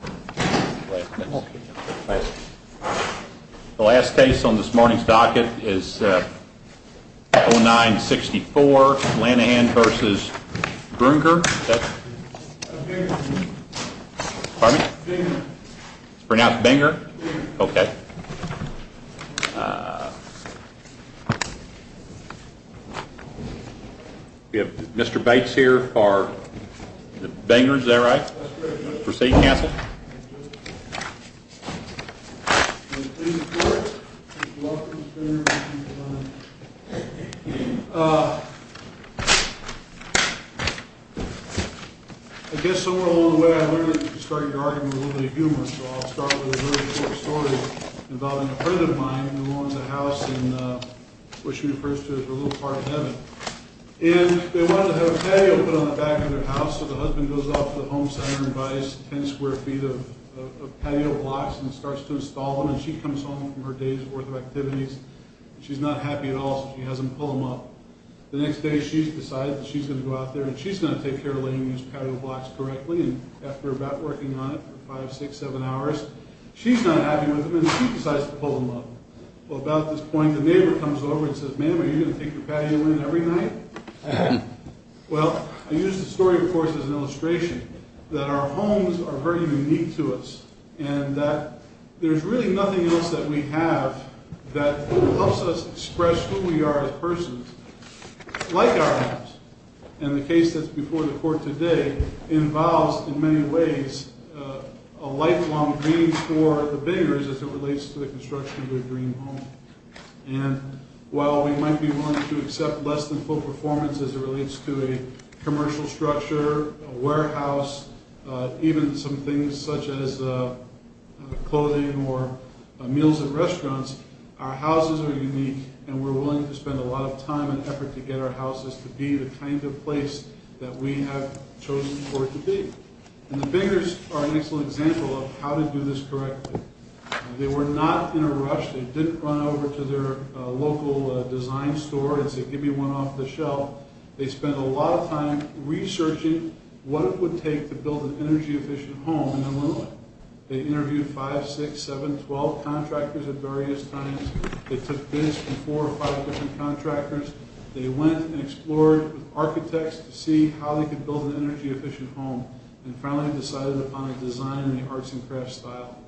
The last case on this morning's docket is 09-64 Lanahan vs. Buenger Buenger It's pronounced Buenger? Buenger We have Mr. Bates here for Buenger. Is that right? Proceed, counsel. I guess somewhere along the way I learned that you started your argument with a little bit of humor. So I'll start with a really short story involving a friend of mine who owns a house in what she refers to as the little part of heaven. And they wanted to have a patio put on the back of their house. So the husband goes off to the home center and buys 10 square feet of patio blocks and starts to install them. And she comes home from her day's worth of activities. She's not happy at all, so she has them pull them up. The next day she's decided that she's going to go out there and she's going to take care of laying these patio blocks correctly. And after about working on it for 5, 6, 7 hours, she's not happy with them and she decides to pull them up. Well, about this point, the neighbor comes over and says, ma'am, are you going to take your patio in every night? Well, I use the story, of course, as an illustration that our homes are very unique to us. And that there's really nothing else that we have that helps us express who we are as persons like our homes. And the case that's before the court today involves, in many ways, a lifelong dream for the builders as it relates to the construction of their dream home. And while we might be willing to accept less than full performance as it relates to a commercial structure, a warehouse, even some things such as clothing or meals at restaurants, our houses are unique. And we're willing to spend a lot of time and effort to get our houses to be the kind of place that we have chosen for it to be. And the builders are an excellent example of how to do this correctly. They were not in a rush. They didn't run over to their local design store and say, give me one off the shelf. They spent a lot of time researching what it would take to build an energy efficient home in Illinois. They interviewed 5, 6, 7, 12 contractors at various times. They took bids from 4 or 5 different contractors. They went and explored with architects to see how they could build an energy efficient home. And finally decided upon a design in the arts and crafts style.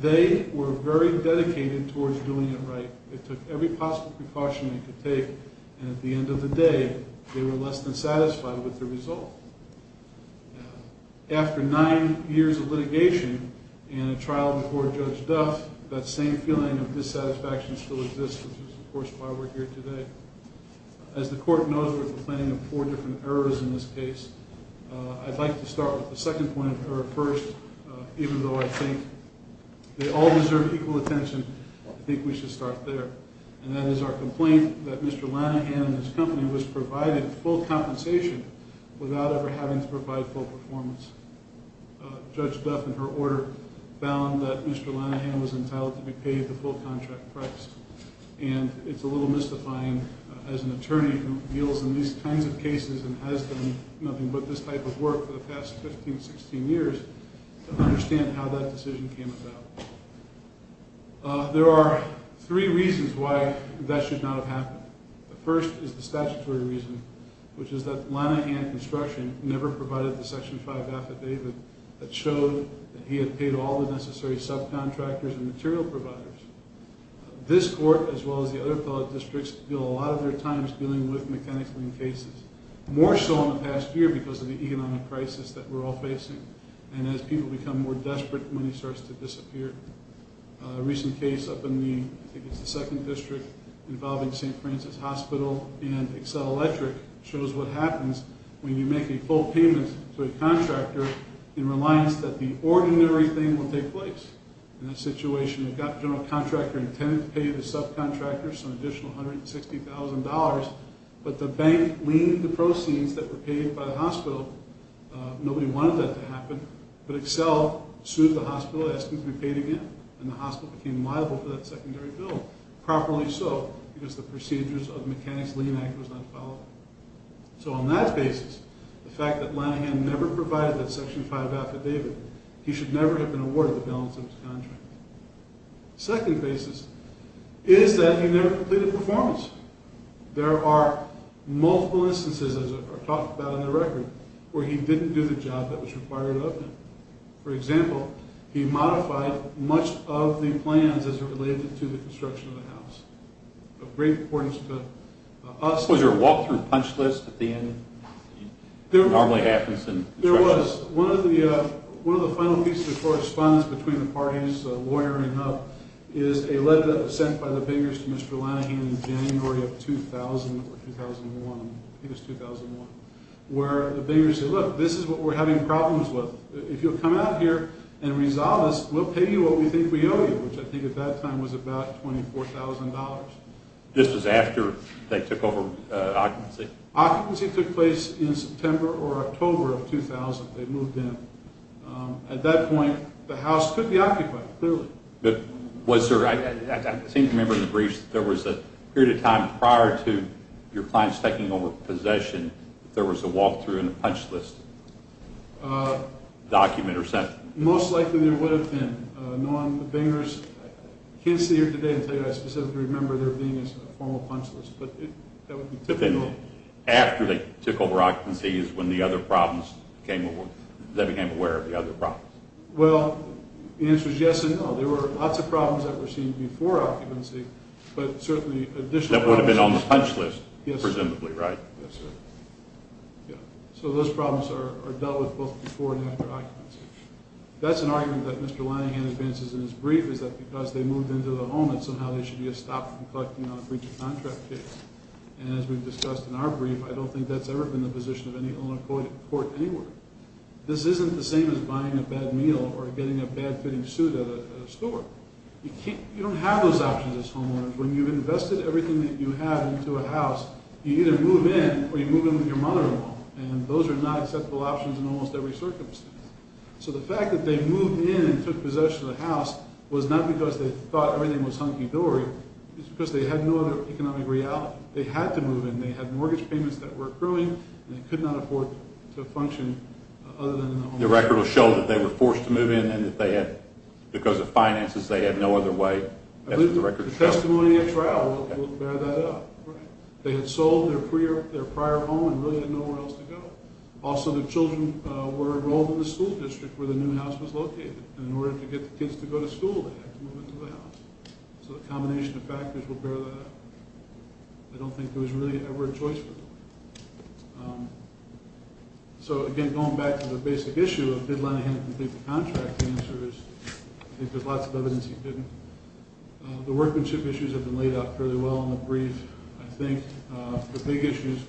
They were very dedicated towards doing it right. They took every possible precaution they could take. And at the end of the day, they were less than satisfied with the result. After 9 years of litigation and a trial before Judge Duff, that same feeling of dissatisfaction still exists, which is of course why we're here today. As the court knows, we're complaining of 4 different errors in this case. I'd like to start with the second point of error first, even though I think they all deserve equal attention. I think we should start there. And that is our complaint that Mr. Lanahan and his company was provided full compensation without ever having to provide full performance. Judge Duff, in her order, found that Mr. Lanahan was entitled to be paid the full contract price. And it's a little mystifying as an attorney who deals in these kinds of cases and has done nothing but this type of work for the past 15, 16 years to understand how that decision came about. There are 3 reasons why that should not have happened. The first is the statutory reason, which is that Lanahan Construction never provided the Section 5 affidavit that showed that he had paid all the necessary subcontractors and material providers. This court, as well as the other fellow districts, deal a lot of their times dealing with mechanics lien cases. More so in the past year because of the economic crisis that we're all facing. And as people become more desperate, money starts to disappear. A recent case up in the, I think it's the second district, involving St. Francis Hospital and Accel Electric shows what happens when you make a full payment to a contractor in reliance that the ordinary thing will take place. In that situation, you've got the general contractor intended to pay the subcontractors an additional $160,000, but the bank liened the proceeds that were paid by the hospital. Nobody wanted that to happen, but Accel sued the hospital asking to be paid again, and the hospital became liable for that secondary bill. Properly so, because the procedures of the Mechanics Lien Act was not followed. So on that basis, the fact that Lanahan never provided that Section 5 affidavit, he should never have been awarded the balance of his contract. Second basis is that he never completed performance. There are multiple instances, as I've talked about on the record, where he didn't do the job that was required of him. For example, he modified much of the plans as it related to the construction of the house. Of great importance to us. Was there a walk-through punch list at the end? There was. One of the final pieces of correspondence between the parties, the lawyer and HUB, is a letter sent by the bankers to Mr. Lanahan in January of 2000 or 2001. I think it was 2001. Where the bankers said, look, this is what we're having problems with. If you'll come out here and resolve this, we'll pay you what we think we owe you, which I think at that time was about $24,000. This was after they took over occupancy? Occupancy took place in September or October of 2000. They moved in. At that point, the house could be occupied, clearly. I seem to remember in the briefs that there was a period of time prior to your clients taking over the possession that there was a walk-through and a punch list document or something. Most likely there would have been. I can't see it today to tell you. I specifically remember there being a formal punch list, but that would be typical. After they took over occupancy is when they became aware of the other problems? Well, the answer is yes and no. There were lots of problems that were seen before occupancy, but certainly additional problems. That would have been on the punch list, presumably, right? Yes, sir. So those problems are dealt with both before and after occupancy. That's an argument that Mr. Linehan advances in his brief is that because they moved into the home, that somehow there should be a stop in collecting on a breach of contract case. And as we've discussed in our brief, I don't think that's ever been the position of any owner in court anywhere. This isn't the same as buying a bad meal or getting a bad-fitting suit at a store. You don't have those options as homeowners. When you've invested everything that you have into a house, you either move in or you move in with your mother-in-law. And those are not acceptable options in almost every circumstance. So the fact that they moved in and took possession of the house was not because they thought everything was hunky-dory. It was because they had no other economic reality. They had to move in. They had mortgage payments that were accruing, and they could not afford to function other than in the home. The record will show that they were forced to move in and that they had, because of finances, they had no other way. I believe the testimony at trial will bear that up. They had sold their prior home and really had nowhere else to go. Also, the children were enrolled in the school district where the new house was located, and in order to get the kids to go to school, they had to move into the house. So the combination of factors will bear that up. I don't think there was really ever a choice for them. So, again, going back to the basic issue of did Lenahan complete the contract, the answer is I think there's lots of evidence he didn't. The workmanship issues have been laid out fairly well in the brief. I think the big issues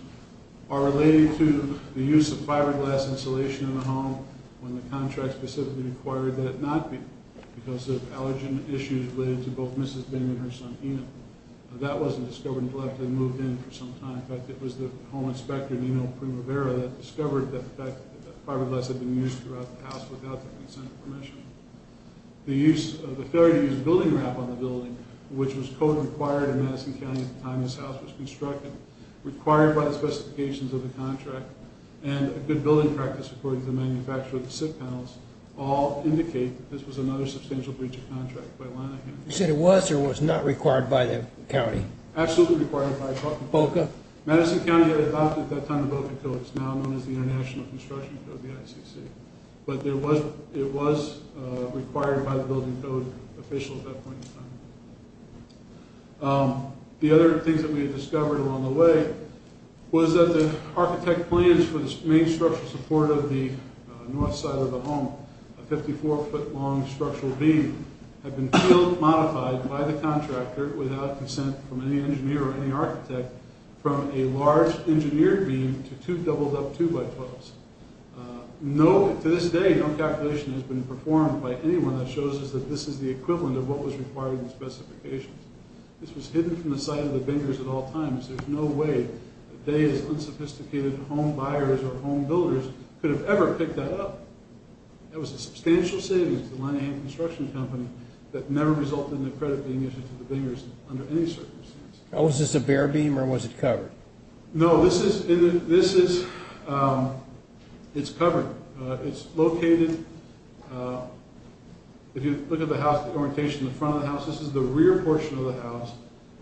are related to the use of fiberglass insulation in the home when the contract specifically required that it not be, because of allergen issues related to both Mrs. Bing and her son, Enoch. That wasn't discovered until after they moved in for some time. In fact, it was the home inspector, Nino Primavera, that discovered that fiberglass had been used throughout the house without the consent of permission. The use of the failure to use building wrap on the building, which was code required in Madison County at the time this house was constructed, required by the specifications of the contract, and a good building practice according to the manufacturer of the SIP panels, all indicate that this was another substantial breach of contract by Lenahan. You said it was or was not required by the county? Absolutely required by the county. BOCA? Madison County had adopted, at that time, the BOCA code. It's now known as the International Construction Code, the ICC. But it was required by the building code official at that point in time. The other things that we had discovered along the way was that the architect plans for the main structural support of the north side of the home, a 54-foot-long structural beam, had been modified by the contractor without consent from any engineer or any architect from a large engineered beam to two doubled-up 2x12s. To this day, no calculation has been performed by anyone that shows us that this is the equivalent of what was required in the specifications. This was hidden from the sight of the bingers at all times. There's no way that day's unsophisticated home buyers or home builders could have ever picked that up. That was a substantial savings to the Lenahan Construction Company that never resulted in the credit being issued to the bingers under any circumstances. Was this a bare beam or was it covered? No, this is, it's covered. It's located, if you look at the house, the orientation of the front of the house, this is the rear portion of the house.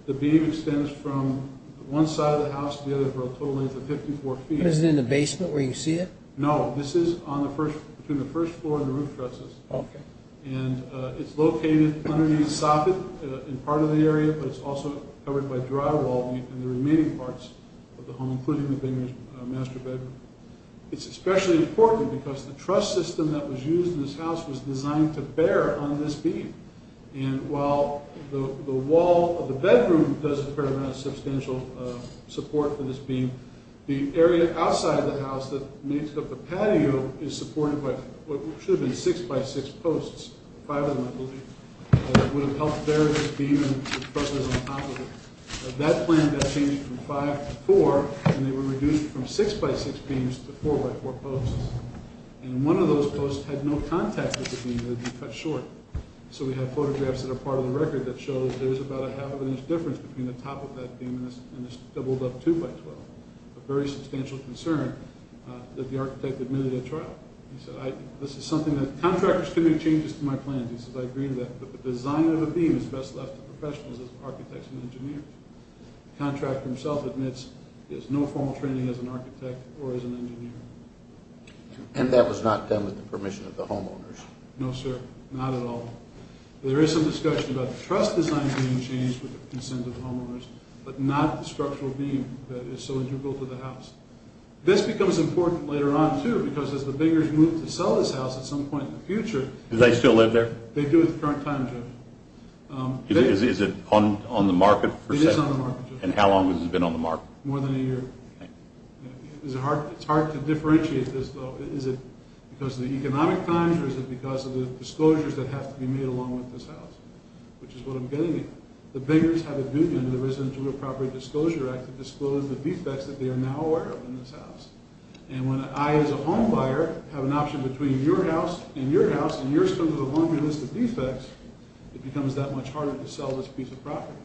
The beam extends from one side of the house to the other for a total length of 54 feet. Is it in the basement where you see it? No, this is on the first, between the first floor and the roof trusses. Okay. And it's located underneath sockets in part of the area, but it's also covered by drywall in the remaining parts of the home, including the bingers' master bedroom. It's especially important because the truss system that was used in this house was designed to bear on this beam. And while the wall of the bedroom does a fair amount of substantial support for this beam, the area outside of the house that makes up the patio is supported by what should have been six by six posts, five of them I believe, that would have helped bear this beam and the trusses on top of it. That plan got changed from five to four, and they were reduced from six by six beams to four by four posts. And one of those posts had no contact with the beam. It had been cut short. So we have photographs that are part of the record that show there's about a half-inch difference between the top of that beam and this doubled-up two-by-twelve, a very substantial concern that the architect admitted at trial. He said, this is something that contractors can make changes to my plans. He said, I agree that the design of a beam is best left to professionals as architects and engineers. The contractor himself admits there's no formal training as an architect or as an engineer. And that was not done with the permission of the homeowners? No, sir, not at all. There is some discussion about the truss design being changed with the consent of the homeowners, but not the structural beam that is so integral to the house. This becomes important later on, too, because as the biggers move to sell this house at some point in the future Do they still live there? They do at the current time, Joe. Is it on the market for sale? It is on the market, Joe. And how long has it been on the market? More than a year. It's hard to differentiate this, though. Is it because of the economic times or is it because of the disclosures that have to be made along with this house, which is what I'm getting at. The biggers have a duty under the Residential Real Property Disclosure Act to disclose the defects that they are now aware of in this house. And when I, as a home buyer, have an option between your house and your house and yours comes with a longer list of defects, it becomes that much harder to sell this piece of property.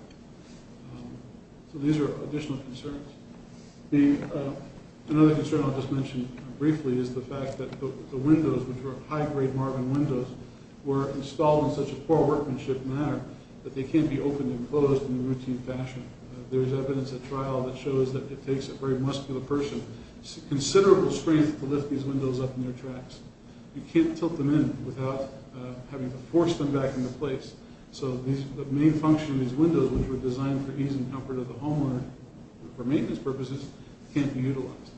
So these are additional concerns. Another concern I'll just mention briefly is the fact that the windows, which were high-grade Marvin windows, were installed in such a poor workmanship manner that they can't be opened and closed in a routine fashion. There's evidence at trial that shows that it takes a very muscular person considerable strength to lift these windows up in their tracks. You can't tilt them in without having to force them back into place. So the main function of these windows, which were designed for ease and comfort of the homeowner, for maintenance purposes, can't be utilized.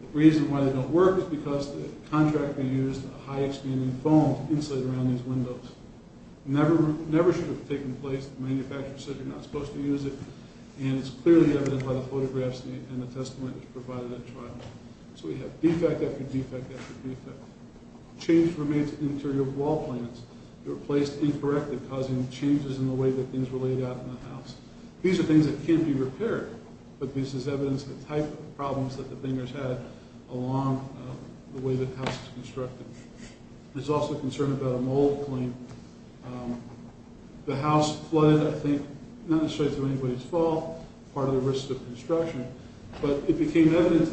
The reason why they don't work is because the contractor used a high-expanding foam to insulate around these windows. It never should have taken place. Manufacturers said you're not supposed to use it, and it's clearly evident by the photographs and the testimony that's provided at trial. So we have defect after defect after defect. Change remains in the interior wall plans. They were placed incorrectly, causing changes in the way that things were laid out in the house. These are things that can't be repaired, but this is evidence of the type of problems that the Bingers had along the way the house was constructed. There's also concern about a mold claim. The house flooded, I think, not necessarily to anybody's fault, part of the risks of construction, but it became evident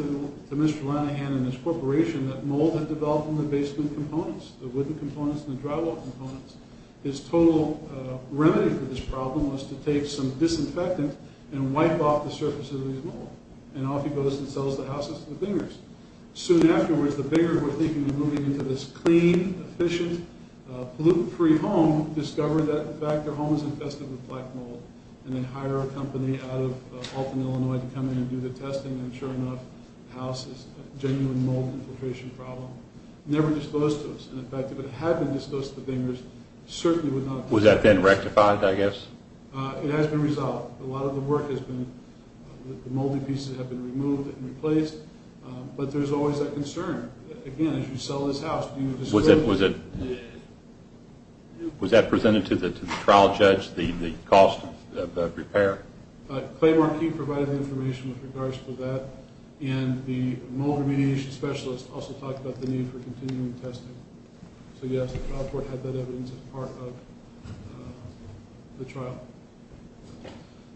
to Mr. Lanahan and his corporation that mold had developed in the basement components, the wooden components and the drywall components. His total remedy for this problem was to take some disinfectant and wipe off the surface of these molds, and off he goes and sells the houses to the Bingers. Soon afterwards, the Bingers were thinking of moving into this clean, efficient, pollutant-free home, discovered that, in fact, their home is infested with black mold, and they hire a company out of Alton, Illinois, to come in and do the testing. And sure enough, the house is a genuine mold infiltration problem. Never disclosed to us. And, in fact, if it had been disclosed to the Bingers, certainly would not have been... Was that then rectified, I guess? It has been resolved. A lot of the work has been... The moldy pieces have been removed and replaced. But there's always that concern. Again, as you sell this house, was that presented to the trial judge, the cost of the repair? Clay Marquis provided the information with regards to that, and the mold remediation specialist also talked about the need for continuing testing. So, yes, the trial court had that evidence as part of the trial.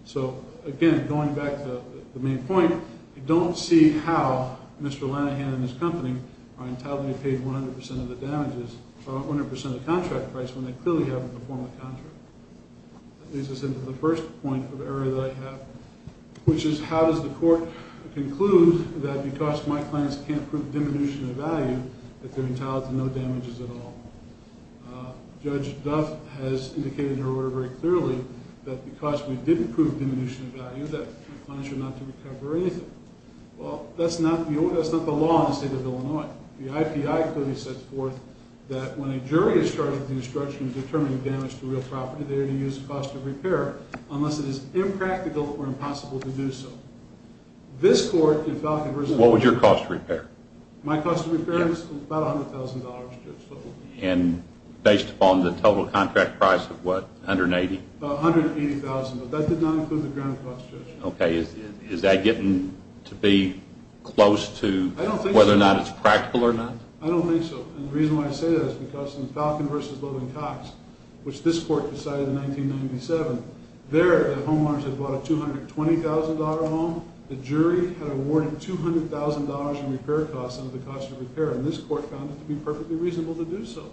So, again, going back to the main point, you don't see how Mr. Lanahan and his company are entitled to be paid 100% of the damages, or 100% of the contract price, when they clearly haven't performed the contract. That leads us into the first point of error that I have, which is how does the court conclude that because my clients can't prove diminution of value, that they're entitled to no damages at all? Judge Duff has indicated in her order very clearly that because we didn't prove diminution of value, that my clients are not to recover anything. Well, that's not the law in the state of Illinois. The IPI clearly sets forth that when a jury is charged with destruction and determining damage to real property, they are to use the cost of repair, unless it is impractical or impossible to do so. What was your cost of repair? My cost of repair was about $100,000. And based upon the total contract price of what, $180,000? About $180,000, but that did not include the ground cost, Judge. Okay. Is that getting to be close to whether or not it's practical or not? I don't think so. And the reason why I say that is because in Falcon v. Loving-Cox, which this court decided in 1997, there the homeowners had bought a $220,000 home. The jury had awarded $200,000 in repair costs under the cost of repair, and this court found it to be perfectly reasonable to do so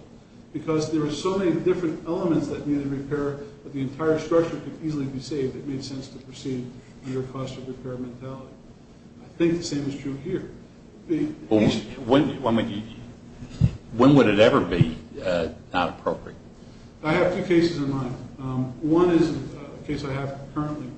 because there were so many different elements that needed repair that the entire structure could easily be saved. It made sense to proceed under a cost of repair mentality. I think the same is true here. When would it ever be not appropriate? I have two cases in mind. One is a case I have currently.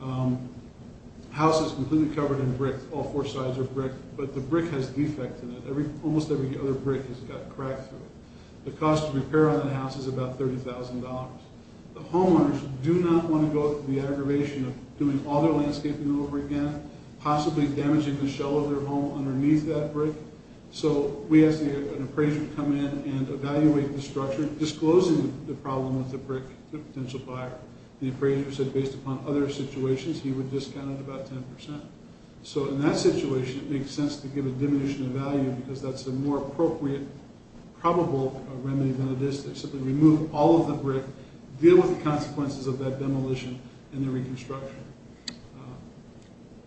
The house is completely covered in brick. All four sides are brick, but the brick has defects in it. Almost every other brick has got a crack through it. The cost of repair on that house is about $30,000. The homeowners do not want to go through the aggravation of doing all their landscaping over again, possibly damaging the shell of their home underneath that brick. So we asked an appraiser to come in and evaluate the structure, disclosing the problem with the brick to a potential buyer. The appraiser said, based upon other situations, he would discount it about 10%. So in that situation, it makes sense to give a diminution of value because that's a more appropriate probable remedy than it is to simply remove all of the brick, deal with the consequences of that demolition and the reconstruction.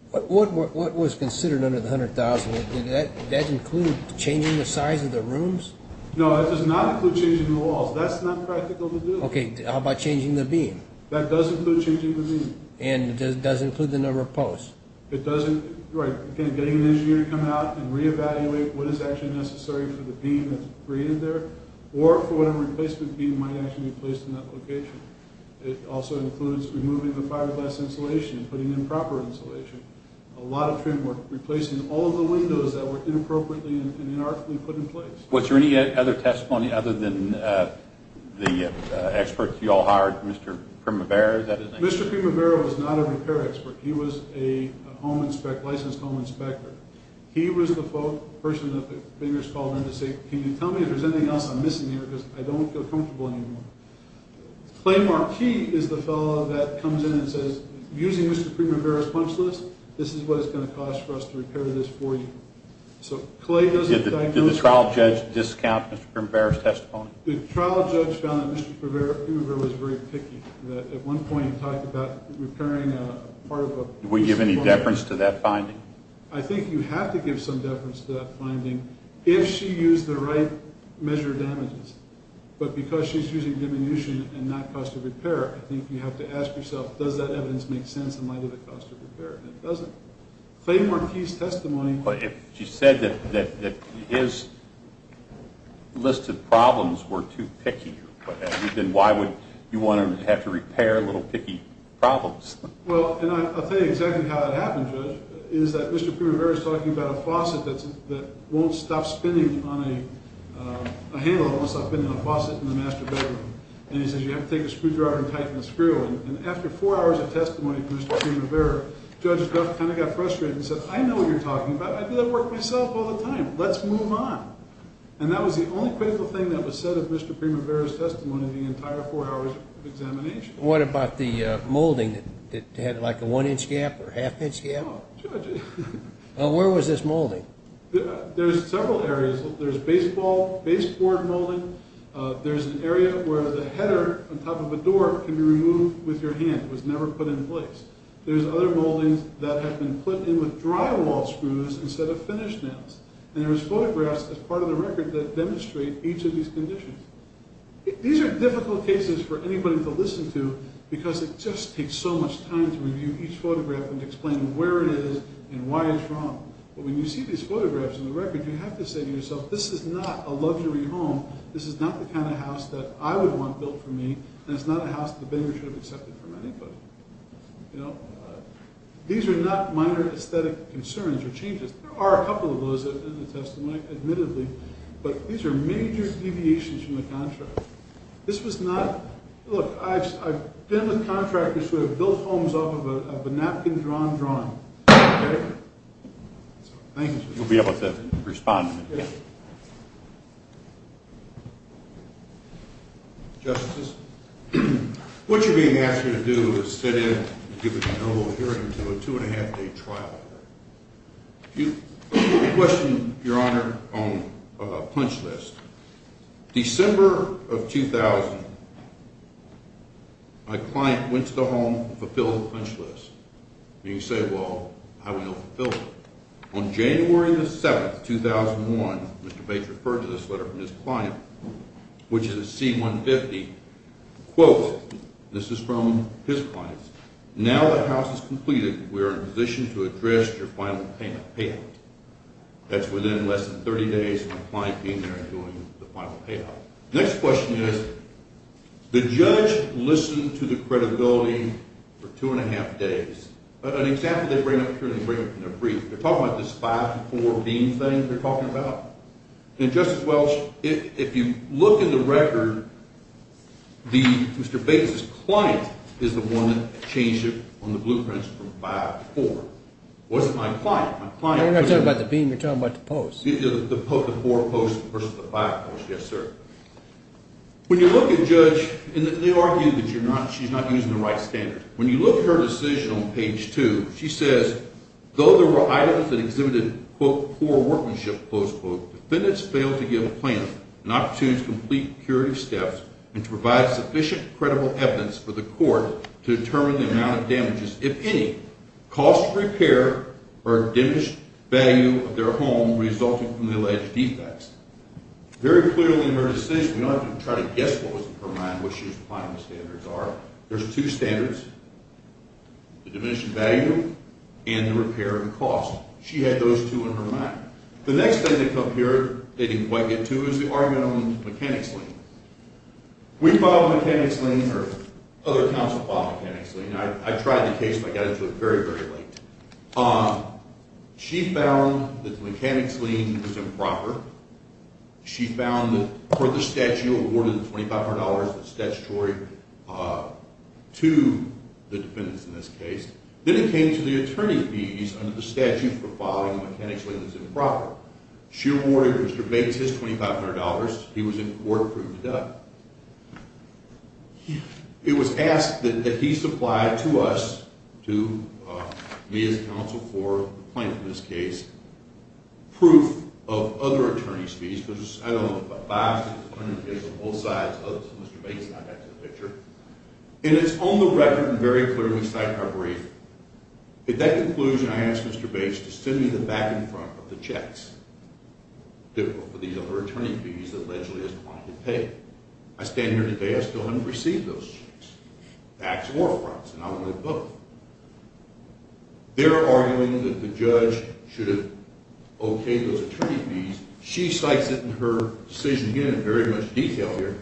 What was considered under the $100,000? Did that include changing the size of the rooms? No, that does not include changing the walls. That's not practical to do. Okay, how about changing the beam? That does include changing the beam. And it does include the number of posts? It does include getting an engineer to come out and reevaluate what is actually necessary for the beam that's created there or for whatever replacement beam might actually be placed in that location. It also includes removing the fiberglass insulation and putting in proper insulation. A lot of trim work, replacing all of the windows that were inappropriately and inarticulately put in place. Was there any other testimony other than the experts you all hired, Mr. Primavera, is that his name? Mr. Primavera was not a repair expert. He was a licensed home inspector. He was the person that the fingers called in to say, can you tell me if there's anything else I'm missing here because I don't feel comfortable anymore. Clay Marquis is the fellow that comes in and says, using Mr. Primavera's punch list, this is what it's going to cost for us to repair this for you. Did the trial judge discount Mr. Primavera's testimony? The trial judge found that Mr. Primavera was very picky. At one point he talked about repairing part of a piece of wood. Did we give any deference to that finding? I think you have to give some deference to that finding if she used the right measure of damages. But because she's using diminution and not cost of repair, I think you have to ask yourself, does that evidence make sense in light of the cost of repair, and it doesn't. Clay Marquis' testimony. But if she said that his listed problems were too picky, then why would you want to have to repair little picky problems? Well, and I'll tell you exactly how it happened, Judge, is that Mr. Primavera is talking about a faucet that won't stop spinning on a handle. It won't stop spinning in a faucet in the master bedroom. And he says you have to take a screwdriver and tighten the screw. And after four hours of testimony from Mr. Primavera, Judge Duff kind of got frustrated and said, I know what you're talking about. I do that work myself all the time. Let's move on. And that was the only critical thing that was said of Mr. Primavera's testimony in the entire four hours of examination. What about the molding that had like a one-inch gap or half-inch gap? Oh, Judge. Where was this molding? There's several areas. There's baseball, baseboard molding. There's an area where the header on top of a door can be removed with your hand. It was never put in place. There's other moldings that have been put in with drywall screws instead of finish nails. And there's photographs as part of the record that demonstrate each of these conditions. These are difficult cases for anybody to listen to because it just takes so much time to review each photograph and explain where it is and why it's wrong. But when you see these photographs in the record, you have to say to yourself, this is not a luxury home. This is not the kind of house that I would want built for me. And it's not a house that the bidder should have accepted from anybody. These are not minor aesthetic concerns or changes. There are a couple of those in the testimony, admittedly. But these are major deviations from the contract. This was not – look, I've been with contractors who have built homes off of a napkin-drawn drawing. Okay? Thank you. You'll be able to respond. Justice, what you're being asked here to do is sit in and give a no vote hearing to a two-and-a-half-day trial. A question, Your Honor, on a punch list. December of 2000, my client went to the home and fulfilled the punch list. And you say, well, how do we know he fulfilled it? On January 7, 2001, Mr. Bates referred to this letter from his client, which is a C-150. Quote, and this is from his client, Now the house is completed. We are in position to address your final payment, payout. That's within less than 30 days of my client being there and doing the final payout. Next question is, the judge listened to the credibility for two-and-a-half days. An example they bring up here in their brief, they're talking about this five-to-four beam thing they're talking about. And, Justice Welch, if you look in the record, Mr. Bates' client is the one that changed it on the blueprints from five to four. It wasn't my client. You're not talking about the beam. You're talking about the post. The four posts versus the five posts, yes, sir. When you look at Judge, and they argue that she's not using the right standards. When you look at her decision on page two, she says, Very clearly in her decision, we don't have to try to guess what was in her mind, what she was applying the standards are. There's two standards, the diminishing value and the repair of the cost. She had those two in her mind. The next thing they come here, they didn't quite get to, is the argument on the mechanics lien. We filed a mechanics lien, or other counsel filed a mechanics lien. I tried the case, but I got into it very, very late. She found that the mechanics lien was improper. She found that for the statute awarded $2,500, the statutory, to the defendants in this case. Then it came to the attorney's views under the statute for filing a mechanics lien was improper. She awarded Mr. Bates his $2,500. He was in court proved dead. It was asked that he supply to us, to me as counsel for the plaintiff in this case, proof of other attorney's fees. I don't know if it was $500, $600, it was on both sides. Mr. Bates and I got to the picture. And it's on the record and very clearly cited in our brief. At that conclusion, I asked Mr. Bates to send me the back and front of the checks for these other attorney's fees that allegedly his client had paid. I stand here today. I still haven't received those checks. Backs or fronts. And I would have both. They're arguing that the judge should have okayed those attorney's fees. She cites it in her decision. Again, in very much detail here.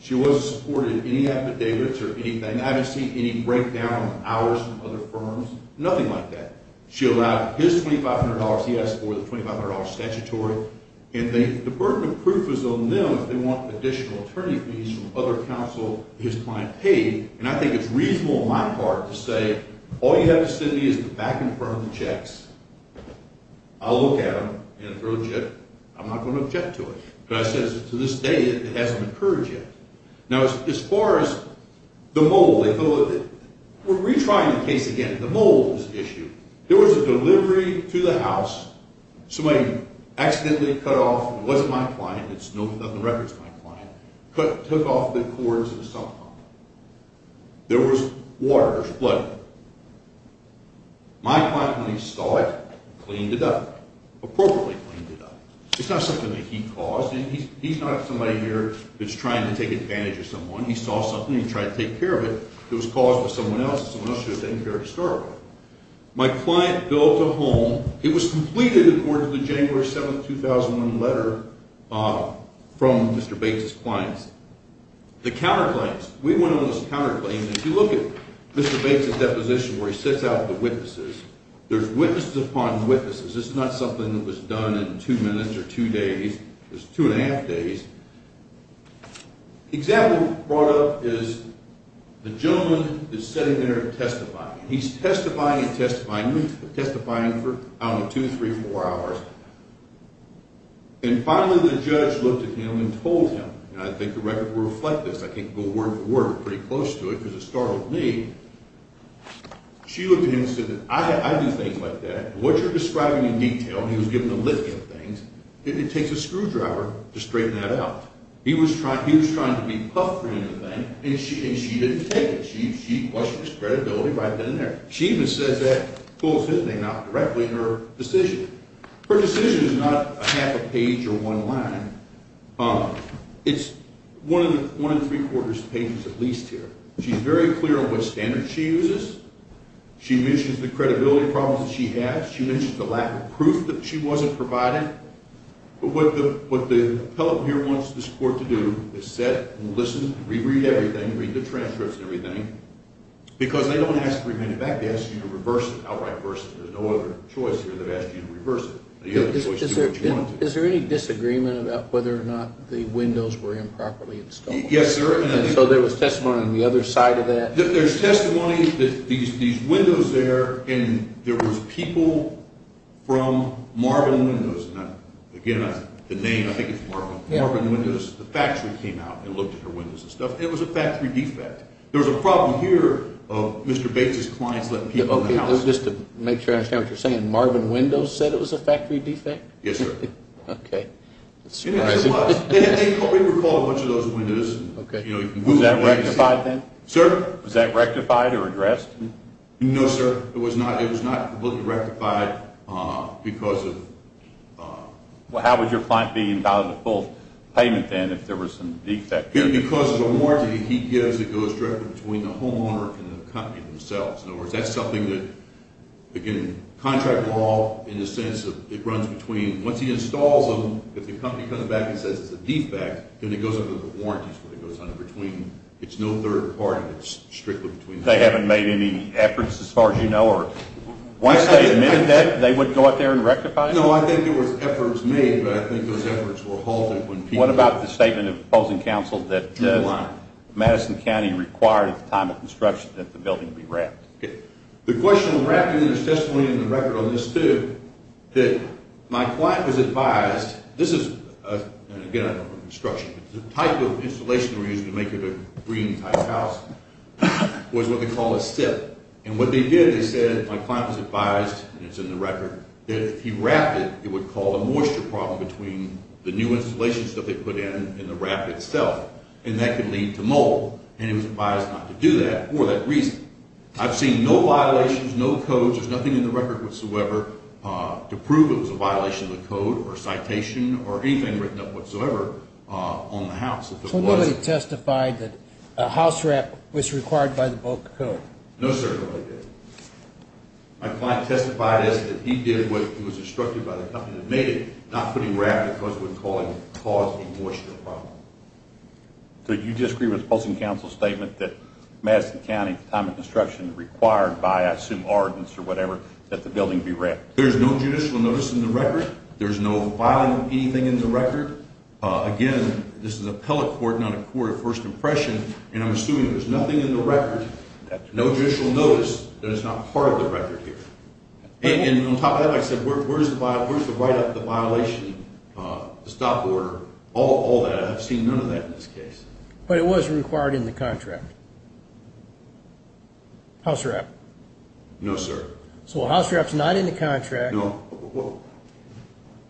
She wasn't supported in any affidavits or anything. I haven't seen any breakdown on ours from other firms. Nothing like that. She allowed his $2,500. He asked for the $2,500 statutory. And the burden of proof is on them if they want additional attorney's fees from other counsel his client paid. And I think it's reasonable on my part to say all you have to send me is the back and front of the checks. I'll look at them and I'm not going to object to it. But as I said, to this day, it hasn't occurred yet. Now, as far as the mold, we're retrying the case again. The mold was the issue. There was a delivery to the house. Somebody accidentally cut off, it wasn't my client, it's not in the records of my client, took off the cords of the sump pump. There was water, there was blood. My client, when he saw it, cleaned it up. Appropriately cleaned it up. It's not something that he caused. He's not somebody here that's trying to take advantage of someone. He saw something and he tried to take care of it. It was caused by someone else and someone else should have taken care of the story. My client built a home. It was completed according to the January 7, 2001 letter from Mr. Bates' clients. The counterclaims. We went over those counterclaims. If you look at Mr. Bates' deposition where he sets out the witnesses, there's witnesses upon witnesses. This is not something that was done in two minutes or two days. It was two and a half days. The example brought up is the gentleman is sitting there testifying. He's testifying and testifying and testifying for, I don't know, two, three, four hours. And finally the judge looked at him and told him, and I think the record will reflect this. I can't go word for word. We're pretty close to it because it startled me. She looked at him and said, I do things like that. What you're describing in detail, he was given a list of things, it takes a screwdriver to straighten that out. He was trying to be puffed in the thing and she didn't take it. She questioned his credibility right then and there. She even says that full sitting, not directly, in her decision. Her decision is not a half a page or one line. It's one and three-quarters pages at least here. She's very clear on what standards she uses. She mentions the credibility problems that she has. She mentions the lack of proof that she wasn't provided. What the appellate here wants this court to do is sit and listen, reread everything, read the transcripts and everything. Because they don't ask to bring it back. They ask you to reverse it outright versus there's no other choice here. They've asked you to reverse it. Is there any disagreement about whether or not the windows were improperly installed? Yes, sir. So there was testimony on the other side of that? There's testimony that these windows there and there was people from Marvin Windows. Again, the name, I think it's Marvin. Marvin Windows, the factory came out and looked at her windows and stuff. It was a factory defect. There was a problem here of Mr. Bates' clients letting people in the house. Just to make sure I understand what you're saying, Marvin Windows said it was a factory defect? Yes, sir. Okay. They recall a bunch of those windows. Was that rectified then? Sir? Was that rectified or addressed? No, sir. It was not completely rectified because of… Well, how would your client be entitled to full payment then if there was some defect? Because of a warranty he gives that goes directly between the homeowner and the company themselves. In other words, that's something that, again, contract law in the sense of it runs between. Once he installs them, if the company comes back and says it's a defect, then it goes under the warranties where it goes under between. It's no third party. It's strictly between. They haven't made any efforts as far as you know? Once they admitted that, they wouldn't go out there and rectify it? No, I think there were efforts made, but I think those efforts were halted when people… What about the statement of opposing counsel that Madison County required at the time of construction that the building be wrapped? The question of wrapping is definitely in the record on this, too. My client was advised – this is, again, construction. The type of installation we're using to make it a green-type house was what they call a SIP. And what they did, they said, my client was advised, and it's in the record, that if he wrapped it, it would cause a moisture problem between the new installation stuff they put in and the wrap itself, and that could lead to mold. And he was advised not to do that for that reason. I've seen no violations, no codes. There's nothing in the record whatsoever to prove it was a violation of the code or a citation or anything written up whatsoever on the house. So nobody testified that a house wrap was required by the bulk code? No, sir, nobody did. My client testified that he did what he was instructed by the company that made it, not putting wrap because it would cause a moisture problem. So you disagree with the Postal Council's statement that Madison County, the time of construction required by, I assume, ordinance or whatever, that the building be wrapped? There's no judicial notice in the record. There's no violating anything in the record. Again, this is appellate court, not a court of first impression, and I'm assuming there's nothing in the record, no judicial notice, that it's not part of the record here. And on top of that, like I said, where's the write-up of the violation, the stop order, all that? I've seen none of that in this case. But it was required in the contract. House wrap. No, sir. So a house wrap's not in the contract. No.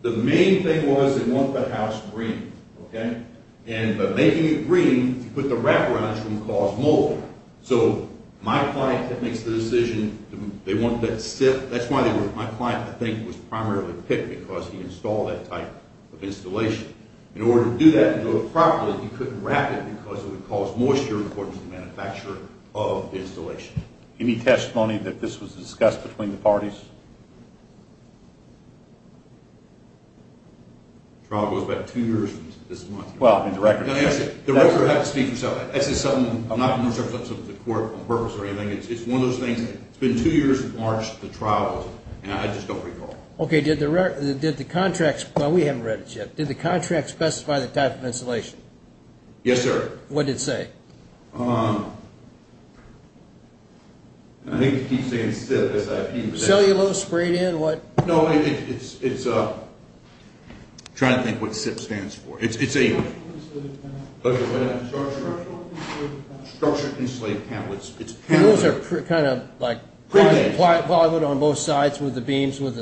The main thing was they want the house green, okay? And by making it green, you put the wrap around it, it's going to cause mold. So my client makes the decision, they want that set. In order to do that and do it properly, you couldn't wrap it because it would cause moisture, according to the manufacturer of the installation. Any testimony that this was discussed between the parties? The trial goes back two years. Well, in the record. In the record, you'll have to speak for yourself. This is something I'm not going to serve the court on purpose or anything. It's one of those things. It's been two years since March the trial was, and I just don't recall. Okay, did the contractsówell, we haven't read it yet. Did the contract specify the type of insulation? Yes, sir. What did it say? I think it keeps saying SIP. Cellulose sprayed in? No, it'sóI'm trying to think what SIP stands for. It's aó Structured Insulated Camp. Structured Insulated Camp. Those are kind of likeó Pre-made. Plywood on both sides with the beams with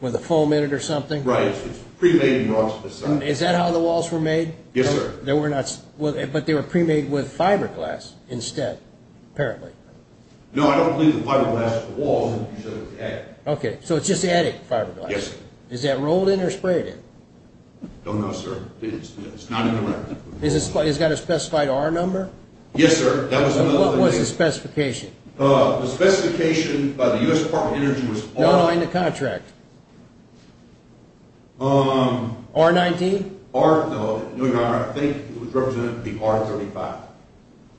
the foam in it or something? Right. It's pre-made on both sides. Is that how the walls were made? Yes, sir. They were notóbut they were pre-made with fiberglass instead, apparently. No, I don't believe the fiberglass was the wall. You said it was the attic. Okay, so it's just the attic, fiberglass. Yes, sir. Is that rolled in or sprayed in? I don't know, sir. It's not in the record. Is itóhas it got a specified R number? Yes, sir. That was another thing. So what was the specification? The specification by the U.S. Department of Energy was alló R-19? No, Your Honor. I think it was represented to be R-35.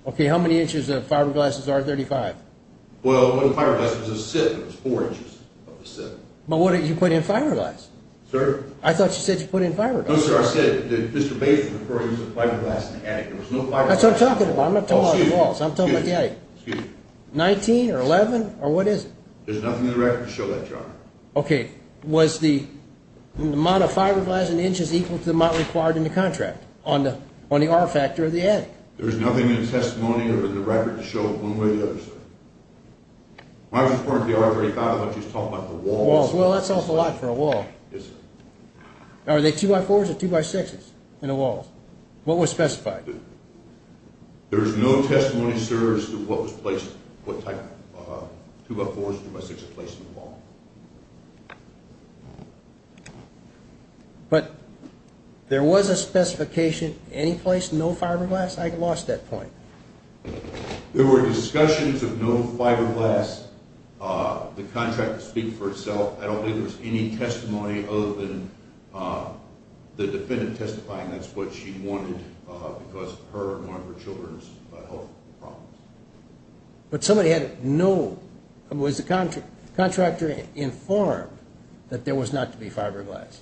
Okay, how many inches of fiberglass is R-35? Well, it wasn't fiberglass. It was a sieve. It was four inches of a sieve. But what did you put in fiberglass? Sir? I thought you said you put in fiberglass. No, sir. I said that Mr. Bateman, of course, used a fiberglass in the attic. There was no fiberglassó That's what I'm talking about. I'm not talking about the walls. I'm talking about the attic. Excuse me. 19 or 11 or what is it? There's nothing in the record to show that, Your Honor. Okay. Was the amount of fiberglass in inches equal to the amount required in the contract on the R-factor of the attic? There's nothing in the testimony or in the record to show it one way or the other, sir. When I was referring to the R-35, I thought you were talking about the walls. Walls. Well, that's an awful lot for a wall. Yes, sir. Are they 2x4s or 2x6s in the walls? What was specified? There's no testimony, sir, as to what type of 2x4s or 2x6s are placed in the wall. But there was a specification, any place, no fiberglass? I lost that point. There were discussions of no fiberglass. The contract would speak for itself. I don't think there was any testimony other than the defendant testifying. That's what she wanted because of her and one of her children's health problems. But somebody had no – was the contractor informed that there was not to be fiberglass?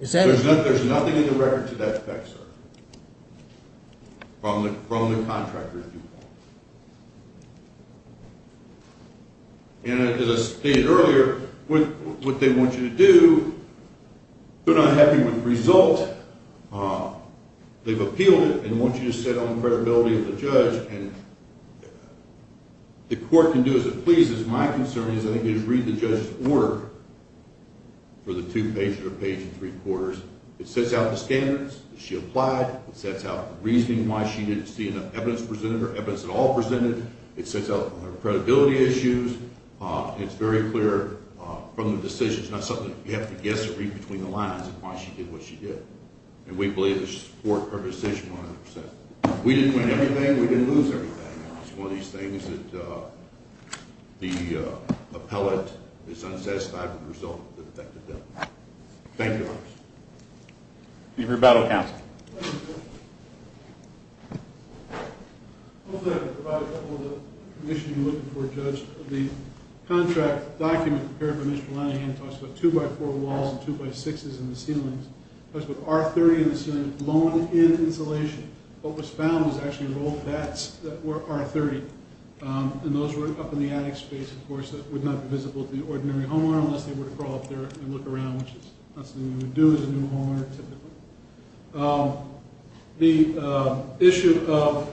There's nothing in the record to that effect, sir, from the contractor's viewpoint. And as I stated earlier, what they want you to do, they're not happy with the result. They've appealed it and want you to sit on the credibility of the judge. And the court can do as it pleases. My concern is I think you just read the judge's order for the two-page or the page and three-quarters. It sets out the standards that she applied. It sets out the reasoning why she didn't see enough evidence presented or evidence at all presented. It sets out her credibility issues. It's very clear from the decision. It's not something that you have to guess or read between the lines of why she did what she did. And we believe to support her decision 100%. We didn't win everything. We didn't lose everything. It's one of these things that the appellate is unsatisfied with the result of the defective bill. Thank you. Any rebuttal, counsel? Hopefully I can provide a couple of the conditions you're looking for, Judge. The contract document prepared by Mr. Linehan talks about two-by-four walls and two-by-sixes in the ceilings. It talks about R30 in the ceiling, blown-in insulation. What was found was actually rolled-backs that were R30. And those were up in the attic space, of course, that would not be visible to the ordinary homeowner unless they were to crawl up there and look around, which is not something you would do as a new homeowner, typically. The issue of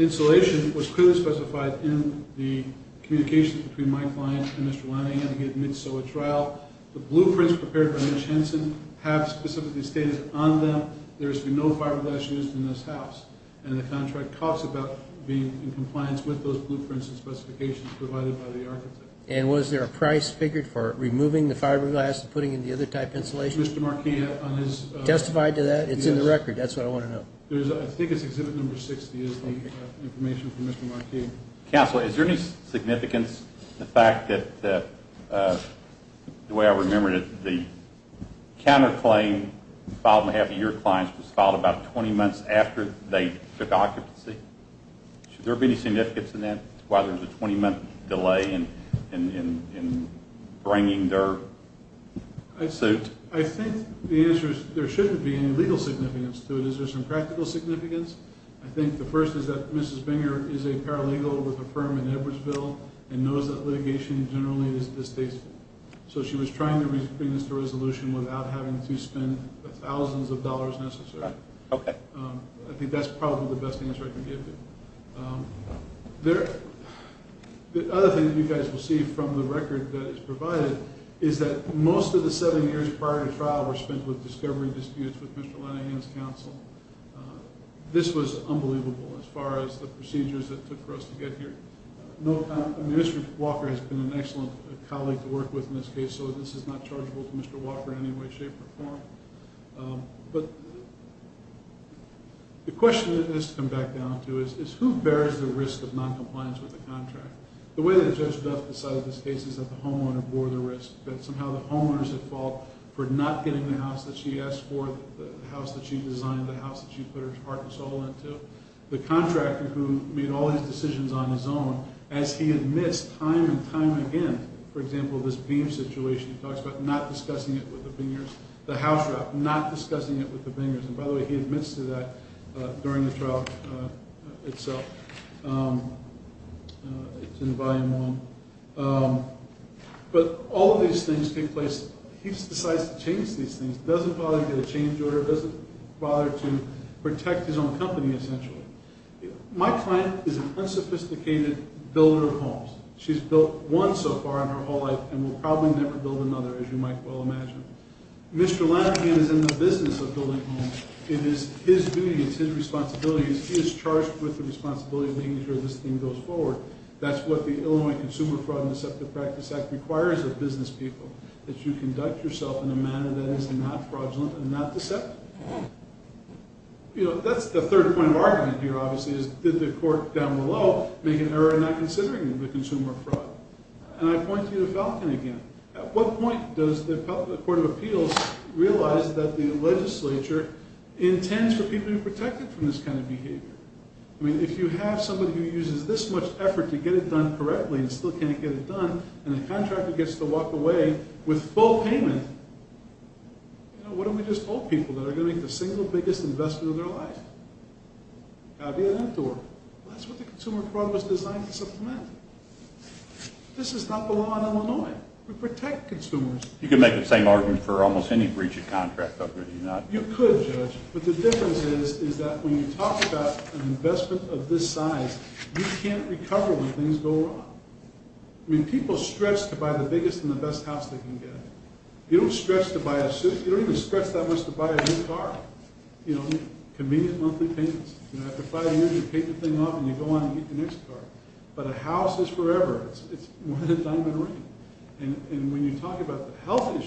insulation was clearly specified in the communications between my client and Mr. Linehan. He admits so at trial. The blueprints prepared by Mitch Henson have specific status on them. There has been no fiberglass used in this house. And the contract talks about being in compliance with those blueprints and specifications provided by the architect. And was there a price figured for removing the fiberglass and putting in the other type of insulation? Mr. Marquis, on his Testified to that? It's in the record. That's what I want to know. I think it's exhibit number 60 is the information from Mr. Marquis. Counsel, is there any significance to the fact that, the way I remember it, the counterclaim filed on behalf of your clients was filed about 20 months after they took occupancy? Should there be any significance to that, why there's a 20-month delay in bringing their suit? I think the answer is there shouldn't be any legal significance to it. Is there some practical significance? I think the first is that Mrs. Binger is a paralegal with a firm in Edwardsville and knows that litigation generally is distasteful. So she was trying to bring this to resolution without having to spend the thousands of dollars necessary. Okay. I think that's probably the best answer I can give you. The other thing that you guys will see from the record that is provided is that most of the seven years prior to trial were spent with discovery disputes with Mr. Lenahan's counsel. This was unbelievable as far as the procedures that took for us to get here. Mr. Walker has been an excellent colleague to work with in this case, so this is not chargeable to Mr. Walker in any way, shape, or form. But the question that has to come back down to is who bears the risk of noncompliance with the contract? The way that Judge Duff decided this case is that the homeowner bore the risk, that somehow the homeowner's at fault for not getting the house that she asked for, the house that she designed, the house that she put her heart and soul into. The contractor, who made all these decisions on his own, as he admits time and time again, for example, this Beam situation he talks about, not discussing it with the Bingers, the house wrap, not discussing it with the Bingers. And by the way, he admits to that during the trial itself. It's in volume one. But all of these things take place. He decides to change these things, doesn't bother to get a change order, doesn't bother to protect his own company, essentially. She's built one so far in her whole life and will probably never build another, as you might well imagine. Mr. Lannigan is in the business of building homes. It is his duty, it's his responsibility, he is charged with the responsibility of making sure this thing goes forward. That's what the Illinois Consumer Fraud and Deceptive Practice Act requires of business people, that you conduct yourself in a manner that is not fraudulent and not deceptive. That's the third point of argument here, obviously, is did the court down below make an error in not considering the consumer fraud? And I point you to Falcon again. At what point does the Court of Appeals realize that the legislature intends for people to be protected from this kind of behavior? I mean, if you have somebody who uses this much effort to get it done correctly and still can't get it done, and the contractor gets to walk away with full payment, you know, what if we just told people that they're going to make the single biggest investment of their life? That's what the consumer fraud was designed to supplement. This is not the law in Illinois. We protect consumers. You could make the same argument for almost any breach of contract. You could, Judge, but the difference is that when you talk about an investment of this size, you can't recover when things go wrong. I mean, people stretch to buy the biggest and the best house they can get. You don't stretch to buy a suit. You don't even stretch that much to buy a new car. You know, convenient monthly payments. You know, after five years, you paint the thing off, and you go on and get your next car. But a house is forever. It's more than a diamond ring. And when you talk about the health issue,